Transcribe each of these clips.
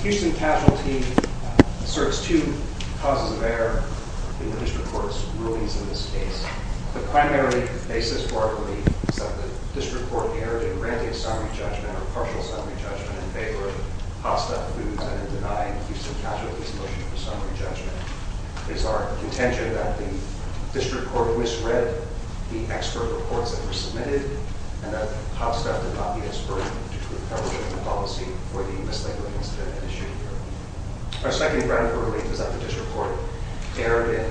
Houston Casualty Asserts Two Causes of Error in the District Court's Rulings in this case. The primary basis for our belief is that the District Court erred in granting summary judgment, or partial summary judgment, in favor of Hot Stuff Foods and in denying Houston Casualty's motion for summary judgment. Our second argument is our contention that the District Court misread the expert reports that were submitted, and that Hot Stuff did not be expert in due to the coverage of the policy for the mislabeling incident at issue. Our second ground for belief is that the District Court erred in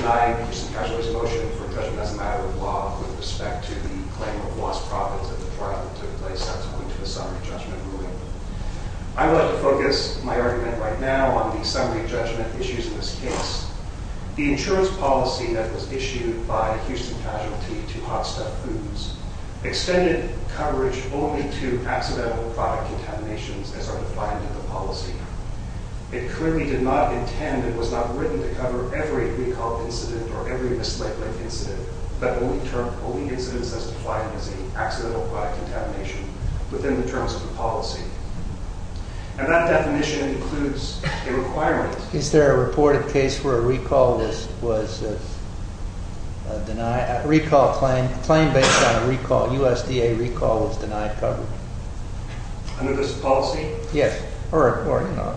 denying Houston Casualty's motion for judgment as a matter of law with respect to the claim of lost profits at the trial that took place subsequent to the summary judgment ruling. I would like to focus my argument right now on the summary judgment issues in this case. The insurance policy that was issued by Houston Casualty to Hot Stuff Foods extended coverage only to accidental product contaminations, as are defined in the policy. It clearly did not intend, it was not written to cover every recall incident or every mislabeling incident, but only incidents as defined as accidental product contamination within the terms of the policy. And that definition includes a requirement... Is there a reported case where a recall was denied, a recall claim, a claim based on a recall, USDA recall was denied coverage? Under this policy? Yes. Or, you know,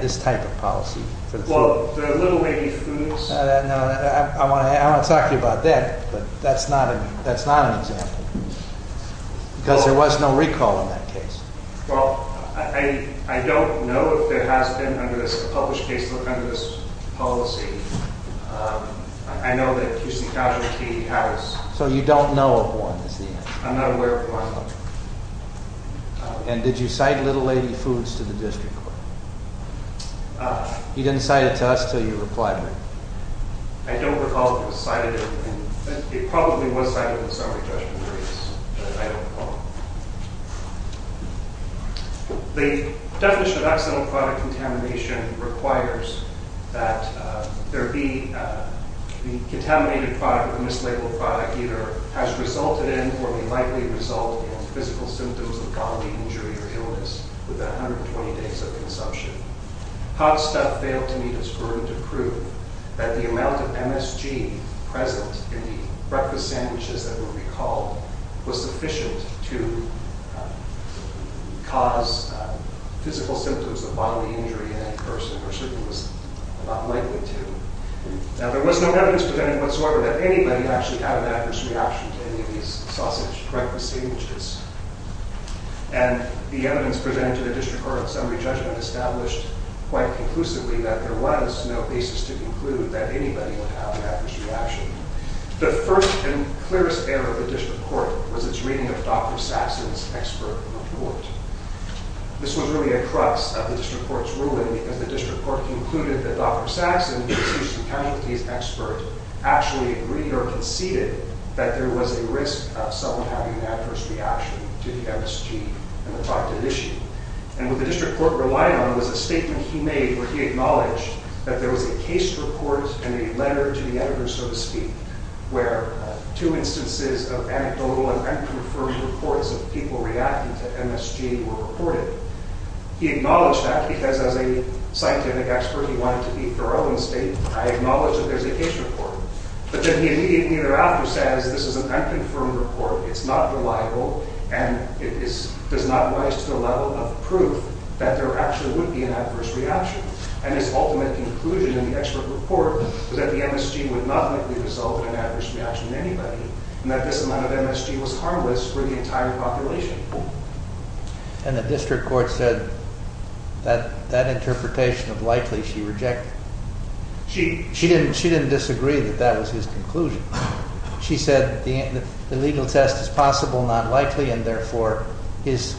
this type of policy. Well, the Little Lady Foods... No, I want to talk to you about that, but that's not an example. Because there was no recall in that case. Well, I don't know if there has been, under this published case, under this policy. I know that Houston Casualty has. So you don't know of one, is the answer. I'm not aware of one. And did you cite Little Lady Foods to the district court? He didn't cite it to us until you replied to me. I don't recall if it was cited. It probably was cited in the summary judgment briefs, but I don't recall. The definition of accidental product contamination requires that there be... The contaminated product or the mislabeled product either has resulted in or may likely result in physical symptoms of bodily injury or illness with 120 days of consumption. Hot Stuff failed to meet its burden to prove that the amount of MSG present in the breakfast sandwiches that were recalled was sufficient to cause physical symptoms of bodily injury in any person, or certainly was not likely to. Now, there was no evidence presented whatsoever that anybody actually had an adverse reaction to any of these sausage breakfast sandwiches. And the evidence presented in the district court summary judgment established quite conclusively that there was no basis to conclude that anybody would have an adverse reaction. The first and clearest error of the district court was its reading of Dr. Saxon's expert report. This was really a crux of the district court's ruling, because the district court concluded that Dr. Saxon, who is the casualty's expert, actually agreed or conceded that there was a risk of someone having an adverse reaction to the MSG and the product at issue. And what the district court relied on was a statement he made where he acknowledged that there was a case report and a letter to the editor, so to speak, where two instances of anecdotal and unconfirmed reports of people reacting to MSG were reported. He acknowledged that because, as a scientific expert, he wanted to be thorough and state, I acknowledge that there's a case report. But then he immediately thereafter says, this is an unconfirmed report, it's not reliable, and it does not rise to the level of proof that there actually would be an adverse reaction. And his ultimate conclusion in the expert report was that the MSG would not likely result in an adverse reaction to anybody, and that this amount of MSG was harmless for the entire population. And the district court said that interpretation of likely she rejected. She didn't disagree that that was his conclusion. She said the legal test is possible, not likely, and therefore his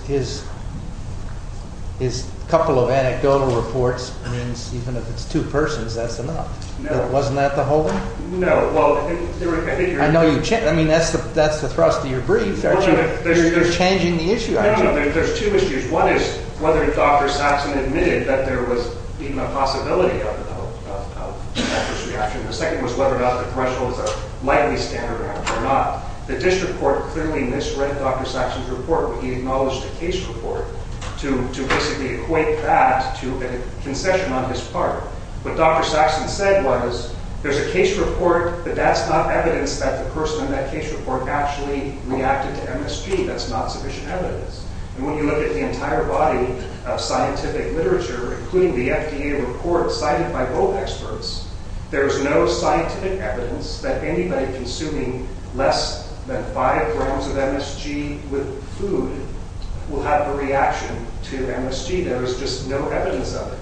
couple of anecdotal reports means even if it's two persons, that's enough. No. Wasn't that the whole thing? No. I mean, that's the thrust of your brief. You're changing the issue, actually. No, no. There's two issues. One is whether Dr. Saxon admitted that there was even a possibility of an adverse reaction. The second was whether or not the threshold was a likely standard or not. The district court clearly misread Dr. Saxon's report when he acknowledged a case report to basically equate that to a concession on his part. What Dr. Saxon said was there's a case report, but that's not evidence that the person in that case report actually reacted to MSG. That's not sufficient evidence. And when you look at the entire body of scientific literature, including the FDA report cited by both experts, there's no scientific evidence that anybody consuming less than five grams of MSG with food will have a reaction to MSG. There is just no evidence of it.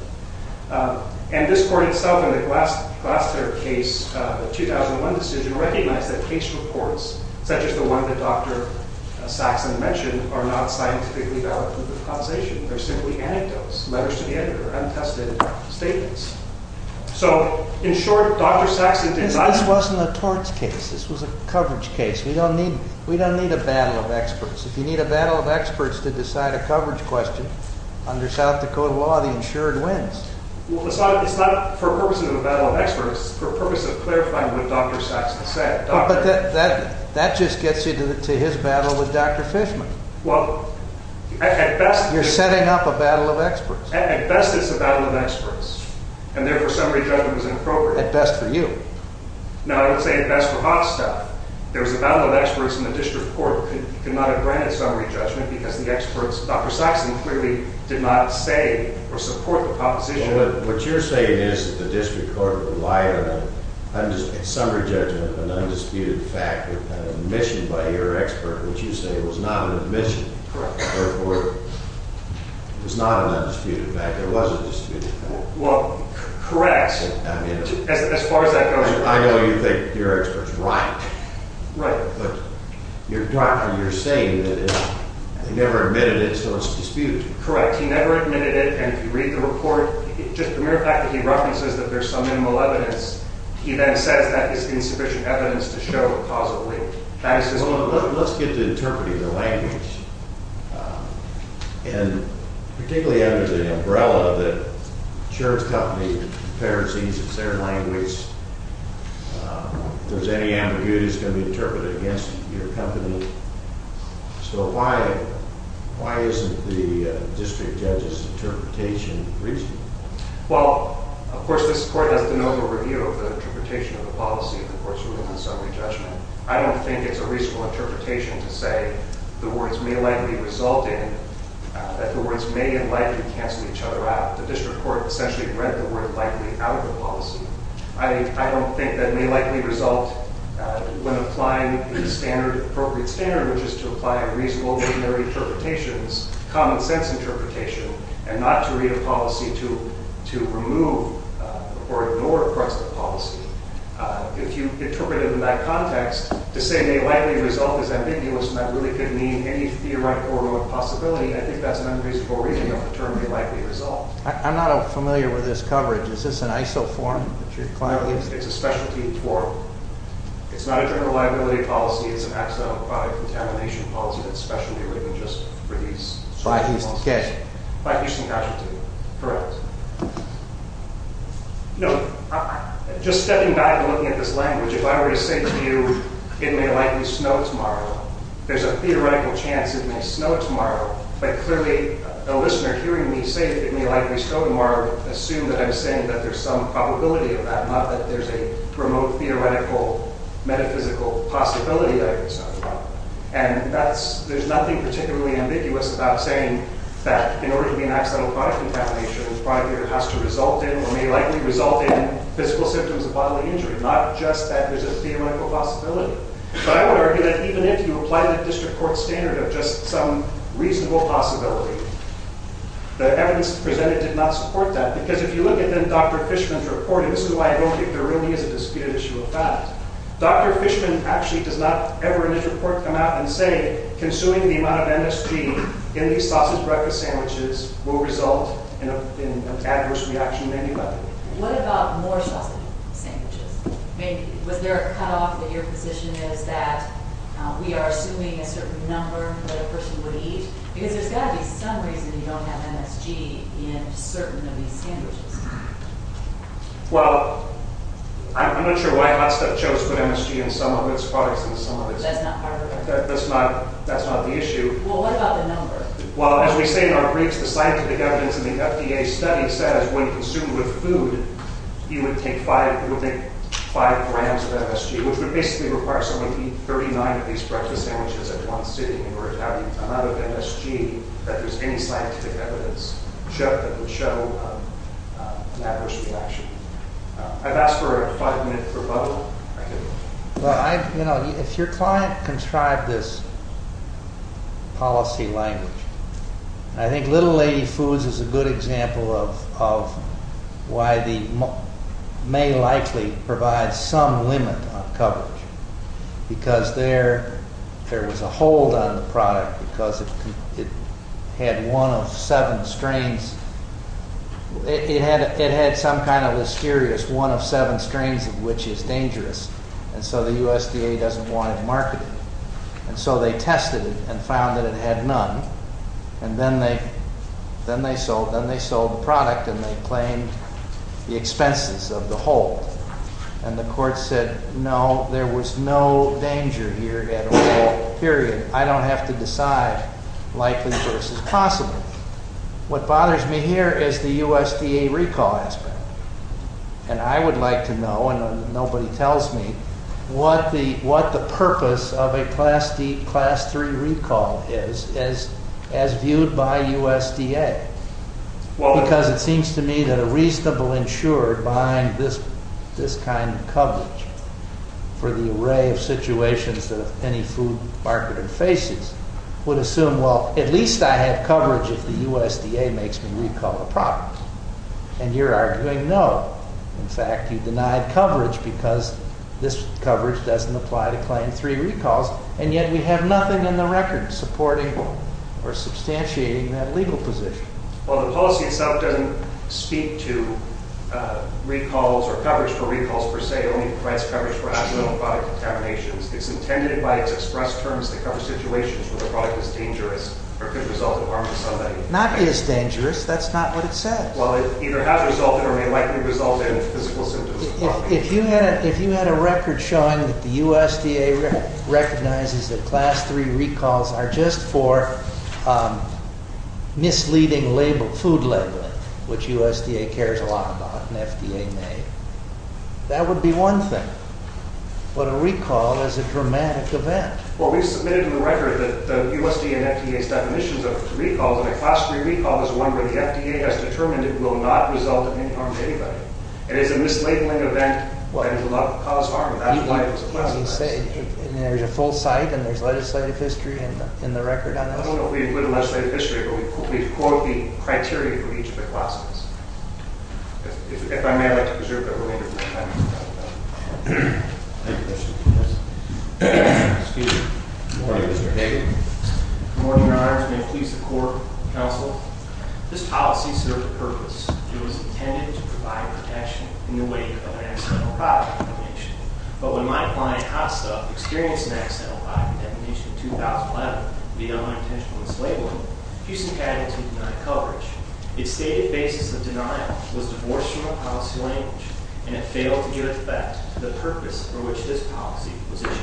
And this court itself in the Glasser case, the 2001 decision, recognized that case reports such as the one that Dr. Saxon mentioned are not scientifically valid proof of causation. They're simply anecdotes, letters to the editor, untested statements. So, in short, Dr. Saxon did not— This wasn't a torts case. This was a coverage case. We don't need a battle of experts. If you need a battle of experts to decide a coverage question, under South Dakota law, the insured wins. Well, it's not for the purpose of a battle of experts. It's for the purpose of clarifying what Dr. Saxon said. But that just gets you to his battle with Dr. Fishman. Well, at best— You're setting up a battle of experts. At best, it's a battle of experts. And therefore, summary judgment is inappropriate. At best for you. No, I would say at best for Hofstadt. There was a battle of experts in the district court who could not have granted summary judgment because the experts—Dr. Saxon clearly did not say or support the proposition. What you're saying is that the district court relied on a summary judgment of an undisputed fact with an admission by your expert, which you say was not an admission. Correct. Therefore, it was not an undisputed fact. It was a disputed fact. Well, correct. I mean— As far as that goes— I know you think your expert's right. Right. But, Dr., you're saying that they never admitted it, so it's disputed. Correct. He never admitted it, and if you read the report, just the mere fact that he references that there's some minimal evidence, he then says that is insufficient evidence to show causally. Well, let's get to interpreting the language, and particularly under the umbrella that the insurance company apparently sees it's their language. If there's any ambiguity, it's going to be interpreted against your company. So why isn't the district judge's interpretation reasonable? Well, of course, this court has to know the review of the interpretation of the policy of the court's ruling on summary judgment. I don't think it's a reasonable interpretation to say the words may likely result in—that the words may and likely cancel each other out. The district court essentially read the word likely out of the policy. I don't think that may likely result when applying the appropriate standard, which is to apply a reasonable, ordinary interpretations, common sense interpretation, and not to read a policy to remove or ignore parts of the policy. If you interpret it in that context, to say may likely result is ambiguous, and that really could mean any theoretical possibility, I think that's an unreasonable reading of the term may likely result. I'm not familiar with this coverage. Is this an ISO form that you're clarifying? It's a specialty form. It's not a general liability policy. It's an accidental product contamination policy that's specially written just for these— By Houston Cash. By Houston Cash, correct. You know, just stepping back and looking at this language, if I were to say to you it may likely snow tomorrow, there's a theoretical chance it may snow tomorrow, but clearly a listener hearing me say it may likely snow tomorrow would assume that I'm saying that there's some probability of that, not that there's a remote theoretical metaphysical possibility that it would snow tomorrow. And that's—there's nothing particularly ambiguous about saying that in order to be an accidental product contamination, the product here has to result in or may likely result in physical symptoms of bodily injury, not just that there's a theoretical possibility. But I would argue that even if you apply the district court standard of just some reasonable possibility, the evidence presented did not support that, because if you look at then Dr. Fishman's report, and this is why I don't think there really is a disputed issue of that, Dr. Fishman actually does not ever in his report come out and say consuming the amount of NSG in these sausage breakfast sandwiches will result in an adverse reaction at any level. What about more sausage sandwiches? I mean, was there a cutoff that your position is that we are assuming a certain number that a person would eat? Because there's got to be some reason you don't have NSG in certain of these sandwiches. Well, I'm not sure why Hot Stuff chose to put NSG in some of its products than some of its— That's not part of the— That's not—that's not the issue. Well, what about the number? Well, as we say in our briefs, the scientific evidence in the FDA study says when consumed with food, you would take five grams of NSG, which would basically require someone to eat 39 of these breakfast sandwiches at one sitting, or an amount of NSG that there's any scientific evidence that would show an adverse reaction. I've asked for a five-minute rebuttal. Well, you know, if your client contrived this policy language, I think Little Lady Foods is a good example of why the—may likely provide some limit on coverage, because there was a hold on the product because it had one of seven strains. It had some kind of mysterious one of seven strains of which is dangerous, and so the USDA doesn't want to market it. And so they tested it and found that it had none, and then they sold the product and they claimed the expenses of the hold. And the court said, no, there was no danger here at all, period. I don't have to decide likely versus possible. What bothers me here is the USDA recall aspect, and I would like to know, and nobody tells me, what the purpose of a Class III recall is as viewed by USDA, because it seems to me that a reasonable insurer buying this kind of coverage for the array of situations that any food marketer faces would assume, well, at least I have coverage if the USDA makes me recall the product. And you're arguing no. In fact, you denied coverage because this coverage doesn't apply to Class III recalls, and yet we have nothing in the record supporting or substantiating that legal position. Well, the policy itself doesn't speak to recalls or coverage for recalls per se, only to class coverage for accidental product contaminations. It's intended by its express terms to cover situations where the product is dangerous or could result in harm to somebody. Not is dangerous. That's not what it says. Well, it either has resulted or may likely result in physical symptoms. If you had a record showing that the USDA recognizes that Class III recalls are just for misleading label, food labeling, which USDA cares a lot about and FDA may, that would be one thing. But a recall is a dramatic event. Well, we submitted in the record the USDA and FDA's definitions of recalls, and a Class III recall is one where the FDA has determined it will not result in any harm to anybody. It is a mislabeling event, and it will not cause harm. That's why it was a Class III. And there's a full site, and there's legislative history in the record on that? I don't know if we include the legislative history, but we quote the criteria for each of the classes. If I may, I'd like to preserve the remainder of my time. Good morning, Mr. Hager. Good morning, Your Honors. May it please the Court, Counsel. This policy served a purpose. It was intended to provide protection in the wake of an accidental product definition. But when my client, HOSTA, experienced an accidental product definition in 2011, we had unintentionally mislabeled it. Houston County did not cover it. Its stated basis of denial was divorced from the policy language, and it failed to give effect to the purpose for which this policy was issued.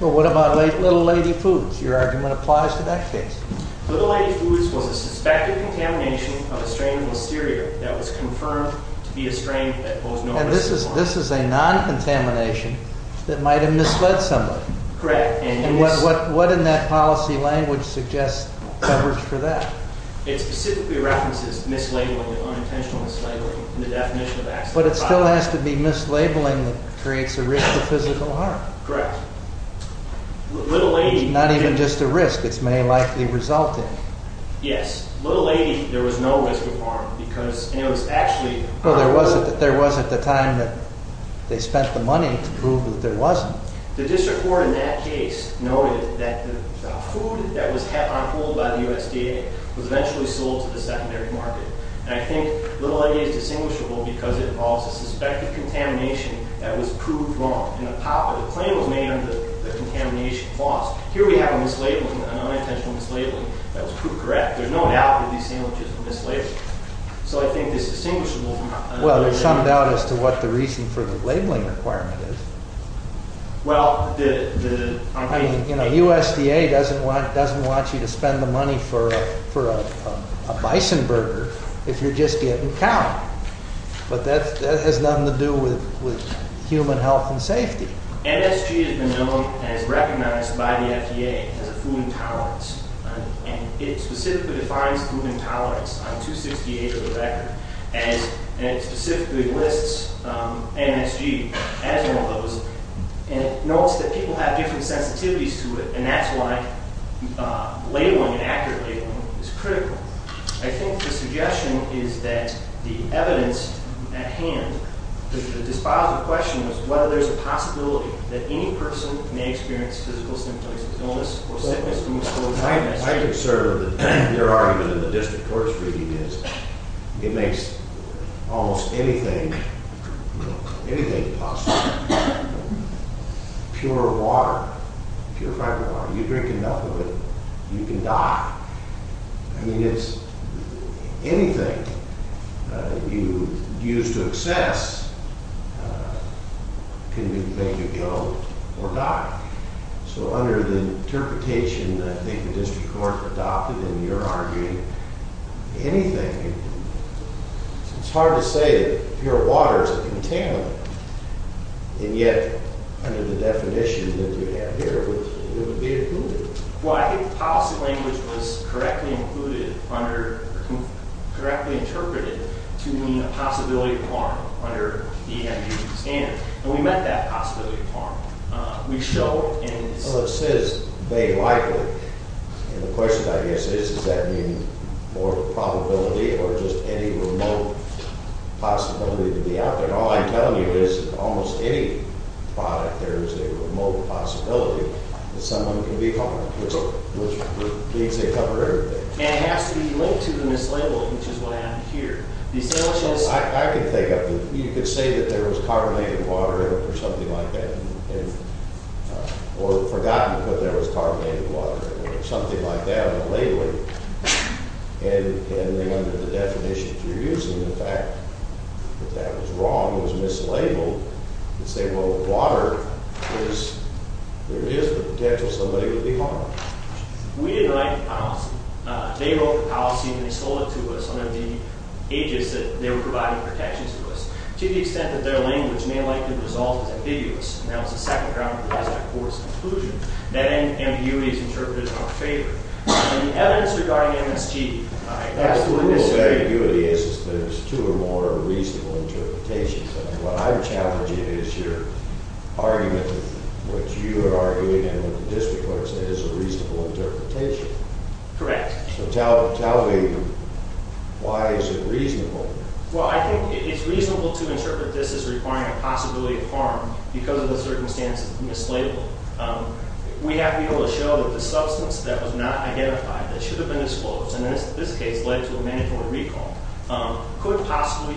Well, what about Little Lady Foods? Your argument applies to that case. Little Lady Foods was a suspected contamination of a strain of listeria that was confirmed to be a strain that posed no risk for harm. And this is a non-contamination that might have misled somebody. Correct. And what in that policy language suggests coverage for that? It specifically references mislabeling, unintentional mislabeling, and the definition of accidental product. But it still has to be mislabeling that creates a risk of physical harm. Correct. It's not even just a risk. It may likely result in it. Yes. Little Lady, there was no risk of harm because it was actually on hold. Well, there was at the time that they spent the money to prove that there wasn't. The district court in that case noted that the food that was on hold by the USDA was eventually sold to the secondary market. And I think Little Lady is distinguishable because it involves a suspected contamination that was proved wrong. And the claim was made under the contamination clause. Here we have a mislabeling, an unintentional mislabeling, that was proved correct. There's no doubt that these sandwiches were mislabeled. So I think it's distinguishable. Well, there's some doubt as to what the reason for the labeling requirement is. Well, the— I mean, you know, USDA doesn't want you to spend the money for a bison burger if you're just getting cow. But that has nothing to do with human health and safety. MSG has been known and is recognized by the FDA as a food intolerance. And it specifically defines food intolerance on 268 of the record. And it specifically lists MSG as one of those. And it notes that people have different sensitivities to it, and that's why labeling, accurate labeling, is critical. I think the suggestion is that the evidence at hand, the dispositive question is whether there's a possibility that any person may experience physical symptoms, illness, or sickness from the source of MSG. My concern with your argument in the district court's reading is it makes almost anything possible. Pure water, purified water. You drink enough of it, you can die. I mean, it's—anything you use to excess can make you ill or die. So under the interpretation that I think the district court adopted in your argument, anything—it's hard to say that pure water is a contaminant. And yet, under the definition that you have here, it would be a pollutant. Well, I think the policy language was correctly included under— correctly interpreted to mean a possibility of harm under the MSG standard. And we meant that possibility of harm. We show in— Well, it says made likely. And the question, I guess, is does that mean more probability or just any remote possibility to be out there? All I'm telling you is almost any product, there is a remote possibility that someone can be harmed, which means they cover everything. And it has to be linked to the mislabeled, which is what happened here. I can think of—you could say that there was carbonated water or something like that, or forgotten that there was carbonated water or something like that on the labeling. And then under the definitions you're using, the fact that that was wrong, was mislabeled, and say, well, water is— there is the potential somebody would be harmed. We didn't like the policy. They wrote the policy and they sold it to us under the aegis that they were providing protections to us. To the extent that their language may likely result as ambiguous, and that was the second ground that provides our court's conclusion, that ambiguity is interpreted in our favor. The evidence regarding MSG, I absolutely disagree. The ambiguity is that it's two or more reasonable interpretations. What I'm challenging is your argument that what you are arguing and what the district court said is a reasonable interpretation. Correct. So tell me, why is it reasonable? Well, I think it's reasonable to interpret this as requiring a possibility of harm because of the circumstances of mislabeling. We have been able to show that the substance that was not identified, that should have been disclosed, and in this case led to a mandatory recall, could possibly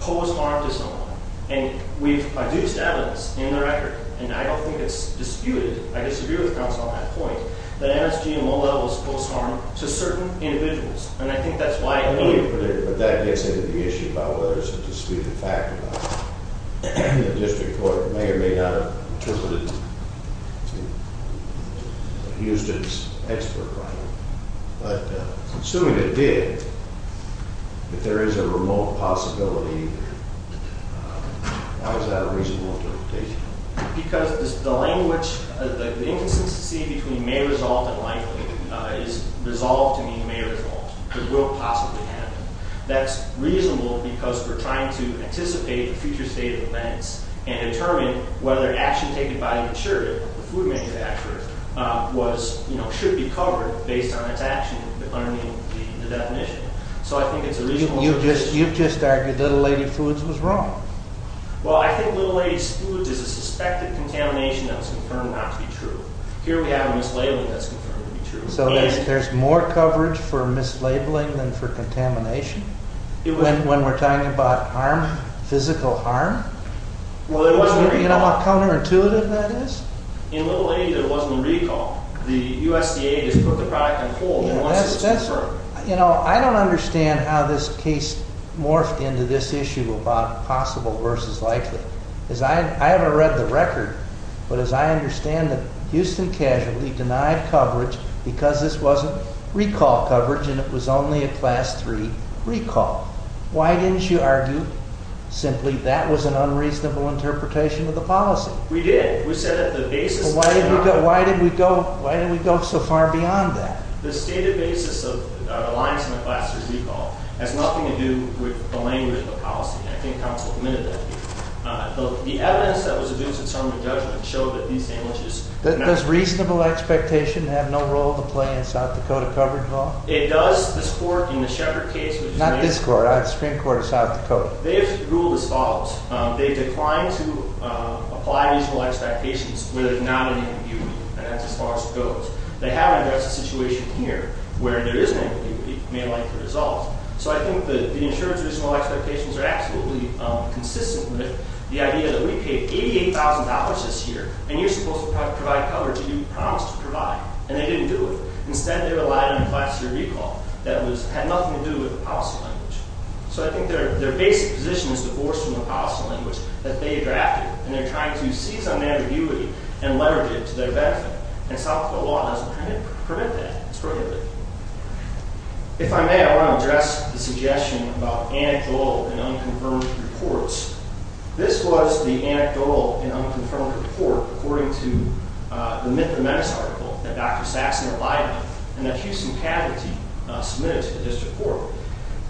pose harm to someone. And we've produced evidence in the record, and I don't think it's disputed—I disagree with counsel on that point— that MSG in low levels poses harm to certain individuals. And I think that's why— But that gets into the issue about whether it's a disputed fact or not. The district court may or may not have interpreted Houston's expert writing, but assuming it did, if there is a remote possibility, how is that a reasonable interpretation? Because the language, the inconsistency between may result and likely is resolved to mean may result. It will possibly happen. That's reasonable because we're trying to anticipate the future state of events and determine whether action taken by the insurer, the food manufacturer, should be covered based on its action under the definition. So I think it's a reasonable interpretation. You've just argued Little Lady Foods was wrong. Well, I think Little Lady Foods is a suspected contamination that was confirmed not to be true. Here we have a mislabeling that's confirmed to be true. So there's more coverage for mislabeling than for contamination? When we're talking about harm, physical harm? You know how counterintuitive that is? In Little Lady, there wasn't a recall. The USDA just put the product in full. You know, I don't understand how this case morphed into this issue about possible versus likely. I haven't read the record, but as I understand it, because this wasn't recall coverage and it was only a Class III recall. Why didn't you argue simply that was an unreasonable interpretation of the policy? We did. We said that the basis of the argument. Why did we go so far beyond that? The stated basis of the lines in the Class III recall has nothing to do with the language of the policy. I think counsel admitted that. The evidence that was adduced in Sermon on Judgment showed that these sandwiches Does reasonable expectation have no role to play in South Dakota coverage law? It does. This court in the Sheppard case Not this court. The Supreme Court of South Dakota. They have ruled as follows. They declined to apply reasonable expectations where there's not any impunity. That's as far as it goes. They haven't addressed the situation here where there is no impunity. It may likely resolve. So I think the insurance reasonable expectations are absolutely consistent with the idea that we paid $88,000 this year and you're supposed to provide coverage that you promised to provide. And they didn't do it. Instead, they relied on the Class III recall that had nothing to do with the policy language. So I think their basic position is divorced from the policy language that they drafted. And they're trying to seize on that ambiguity and leverage it to their benefit. And South Dakota law doesn't permit that. It's prohibited. If I may, I want to address the suggestion about anecdotal and unconfirmed reports. This was the anecdotal and unconfirmed report according to the Myth of the Menace article that Dr. Saxon relied on and that Houston faculty submitted to this report.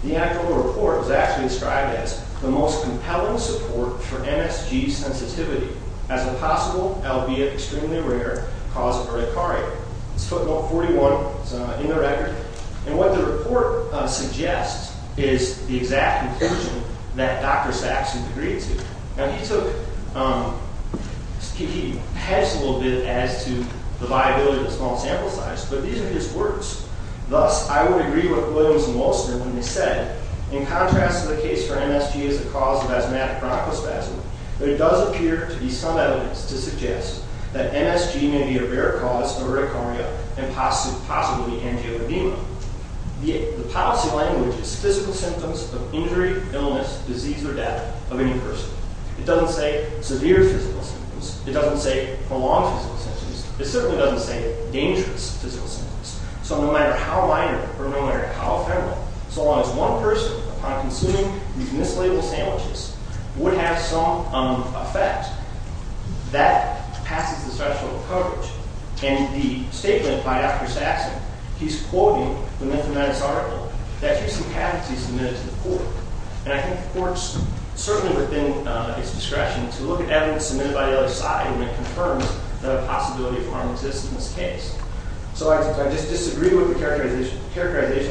The anecdotal report was actually described as the most compelling support for MSG sensitivity as a possible, albeit extremely rare, cause of urticaria. It's footnote 41. It's in the record. And what the report suggests is the exact conclusion that Dr. Saxon agreed to. Now, he hedged a little bit as to the viability of the small sample size. But these are his words. Thus, I would agree with Williams and Wolfson when they said, in contrast to the case for MSG as a cause of asthmatic bronchospasm, there does appear to be some evidence to suggest that MSG may be a rare cause of urticaria and possibly angioedema. The policy language is physical symptoms of injury, illness, disease, or death of any person. It doesn't say severe physical symptoms. It doesn't say prolonged physical symptoms. It certainly doesn't say dangerous physical symptoms. So no matter how minor or no matter how ephemeral, so long as one person, upon consuming these mislabeled sandwiches, would have some effect, that passes the threshold of coverage. And the statement by Dr. Saxon, he's quoting the Mental Medicine article, that here's some patents he submitted to the court. And I think the court's certainly within its discretion to look at evidence submitted by the other side when it confirms the possibility of harm existing in this case. So I just disagree with the characterization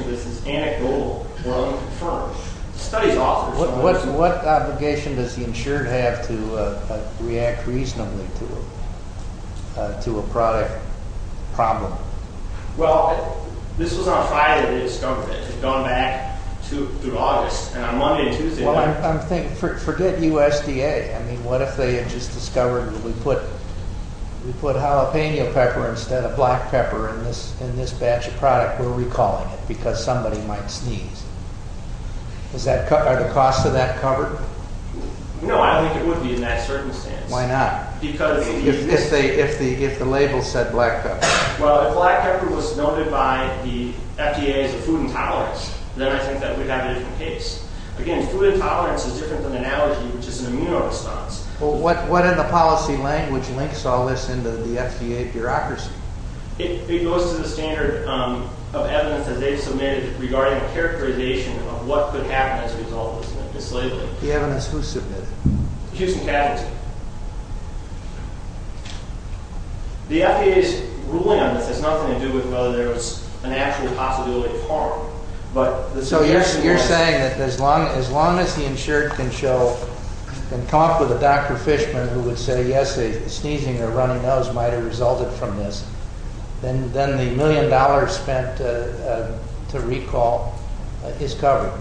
of this as anecdotal. Well, it confirms. Studies offer some evidence. So what obligation does the insured have to react reasonably to a product problem? Well, this was on Friday they discovered it. It had gone back through August. And on Monday and Tuesday... Forget USDA. I mean, what if they had just discovered that we put jalapeno pepper instead of black pepper in this batch of product? We're recalling it because somebody might sneeze. Are the costs of that covered? No, I don't think it would be in that circumstance. Why not? Because... If the label said black pepper. Well, if black pepper was noted by the FDA as a food intolerance, then I think that we'd have a different case. Again, food intolerance is different than an allergy, which is an immuno response. Well, what in the policy language links all this into the FDA bureaucracy? It goes to the standard of evidence that they've submitted regarding characterization of what could happen as a result of this label. The evidence who submitted? Houston Catholic. The FDA's ruling on this has nothing to do with whether there was an actual possibility of harm. So you're saying that as long as the insured can show and come up with a Dr. Fishman who would say, yes, a sneezing or a runny nose might have resulted from this, then the million dollars spent to recall is covered?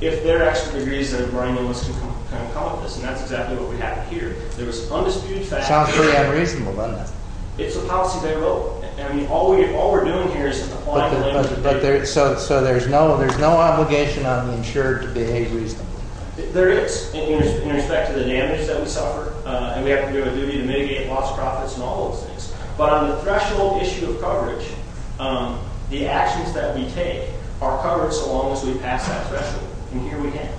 If their expert agrees that a runny nose can come up with this, and that's exactly what we have here, there was undisputed fact... Sounds pretty unreasonable, doesn't it? It's a policy they wrote. All we're doing here is applying the label. So there's no obligation on the insured to behave reasonably? There is, in respect to the damage that we suffer, and we have to do a duty to mitigate lost profits and all those things. But on the threshold issue of coverage, the actions that we take are covered so long as we pass that threshold. And here we have it.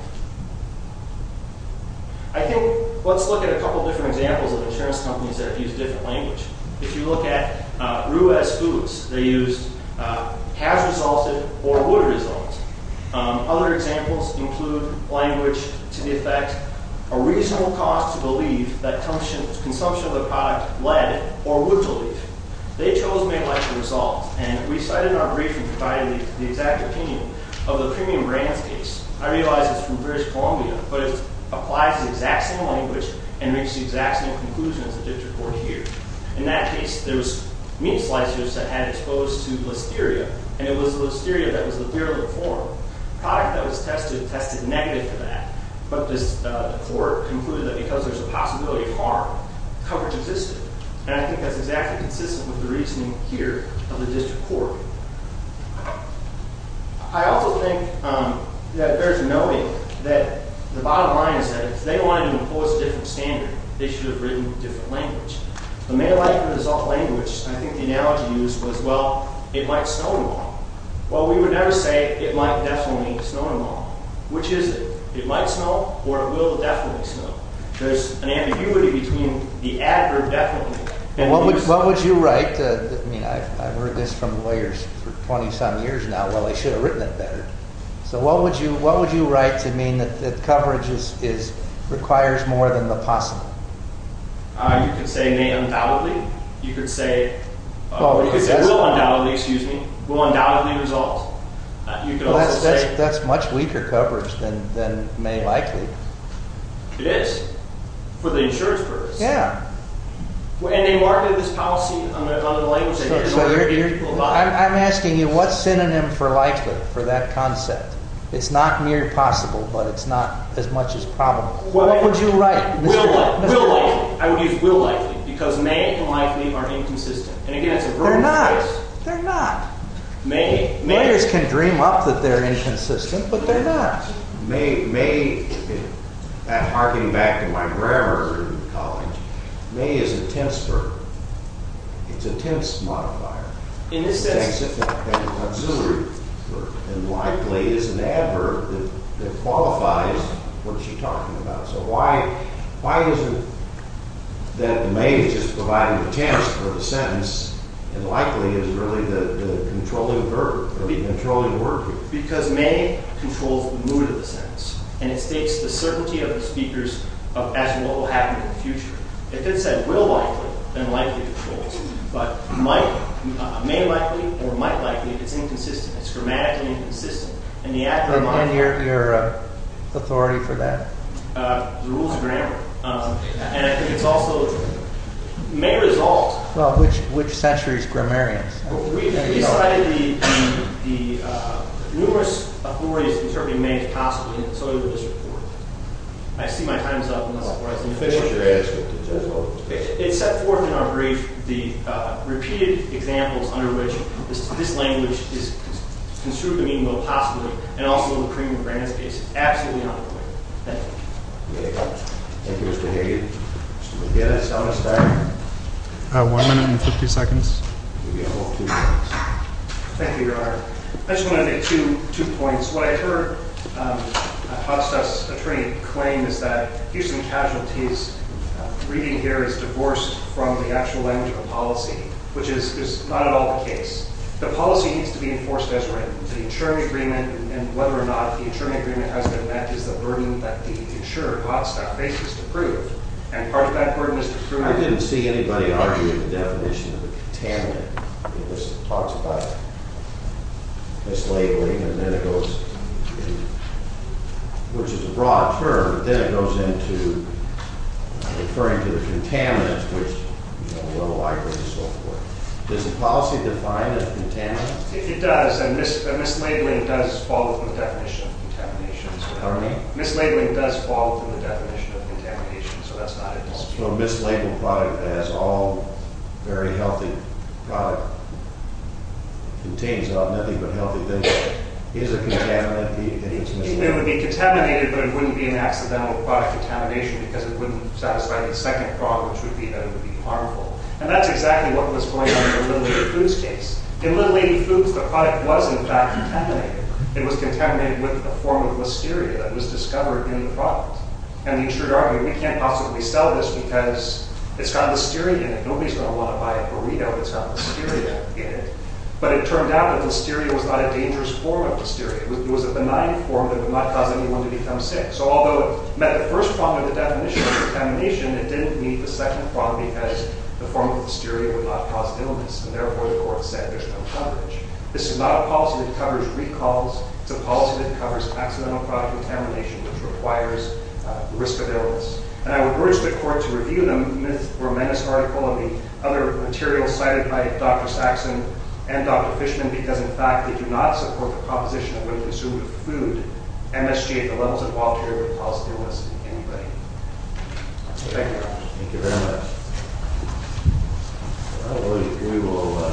I think let's look at a couple different examples of insurance companies that have used different language. If you look at Rue's Foods, they used has resulted or would result. Other examples include language to the effect, a reasonable cost to believe that consumption of the product led or would lead. They chose may like the result, and we cited our brief and provided the exact opinion of the premium brands case. I realize it's from British Columbia, but it applies the exact same language and makes the exact same conclusion as the district court here. In that case, there was meat slicers that had exposed to listeria, and it was the listeria that was the clear little form. The product that was tested tested negative for that, but the court concluded that because there's a possibility of harm, coverage existed. And I think that's exactly consistent with the reasoning here of the district court. I also think that there's a noting that the bottom line is that if they wanted to impose a different standard, they should have written a different language. The may like the result language, I think the analogy used was, well, it might snow tomorrow. Well, we would never say it might definitely snow tomorrow. Which is it? It might snow or it will definitely snow. There's an ambiguity between the adverb definitely. What would you write? I mean, I've heard this from lawyers for 20-some years now. Well, they should have written it better. So what would you write to mean that coverage requires more than the possible? You could say may undoubtedly. You could say will undoubtedly result. That's much weaker coverage than may likely. It is. For the insurance purpose. Yeah. And they marketed this policy under the language. I'm asking you what's synonym for likely for that concept. It's not near possible, but it's not as much as probable. What would you write? Will likely. I would use will likely because may and likely are inconsistent. They're not. They're not. May. Lawyers can dream up that they're inconsistent, but they're not. May, harking back to my grammar in college, may is a tense verb. It's a tense modifier. In this sense. It's an auxiliary verb. And likely is an adverb that qualifies what you're talking about. So why is it that may is just providing the tense for the sentence and likely is really the controlling verb, the controlling word here? Because may controls the mood of the sentence, and it states the certainty of the speakers as to what will happen in the future. If it said will likely, then likely controls. But may likely or might likely, it's inconsistent. It's grammatically inconsistent. And your authority for that? The rules of grammar. And I think it's also may result. Well, which century's grammarians? We decided the numerous authorities interpreting may as possibly, and so did this report. I see my time's up, and that's where I was going to finish. It's set forth in our brief the repeated examples under which this language is construed to mean both possibly and also in the Kramer-Brands case. It's absolutely not appropriate. Thank you. Thank you, Mr. Hayden. Mr. McGinnis, do you want to start? One minute and 50 seconds. Thank you, Your Honor. I just want to make two points. What I heard Hotstock's attorney claim is that Houston casualties, reading here, is divorced from the actual language of the policy, which is not at all the case. The policy needs to be enforced as written. The insuring agreement and whether or not the insuring agreement has been met is the burden that the insured, Hotstock, faces to prove. And part of that burden is to prove it. I didn't see anybody argue with the definition of a contaminant. It talks about mislabeling, which is a raw term, but then it goes into referring to the contaminant, which we all agree is so forth. Does the policy define a contaminant? It does, and mislabeling does fall within the definition of contamination. Mislabeling does fall within the definition of contamination, so that's not at all true. So a mislabeled product that has all very healthy product contains nothing but healthy things, is a contaminant if it's mislabeled? It would be contaminated, but it wouldn't be an accidental product contamination because it wouldn't satisfy the second problem, which would be that it would be harmful. And that's exactly what was going on in the Little Lady Foods case. In Little Lady Foods, the product was, in fact, contaminated. It was contaminated with a form of listeria that was discovered in the product. And the insured argued, we can't possibly sell this because it's got listeria in it. Nobody's going to want to buy a burrito that's got listeria in it. But it turned out that listeria was not a dangerous form of listeria. It was a benign form that would not cause anyone to become sick. So although it met the first problem of the definition of contamination, it didn't meet the second problem because the form of listeria would not cause illness, and therefore the court said there's no coverage. This is not a policy that covers recalls. It's a policy that covers accidental product contamination, which requires risk of illness. And I would urge the court to review the Myth or Menace article and the other materials cited by Dr. Saxon and Dr. Fishman because, in fact, they do not support the proposition that when consumed with food, MSG at the levels involved here would cause illness in anybody. Thank you very much.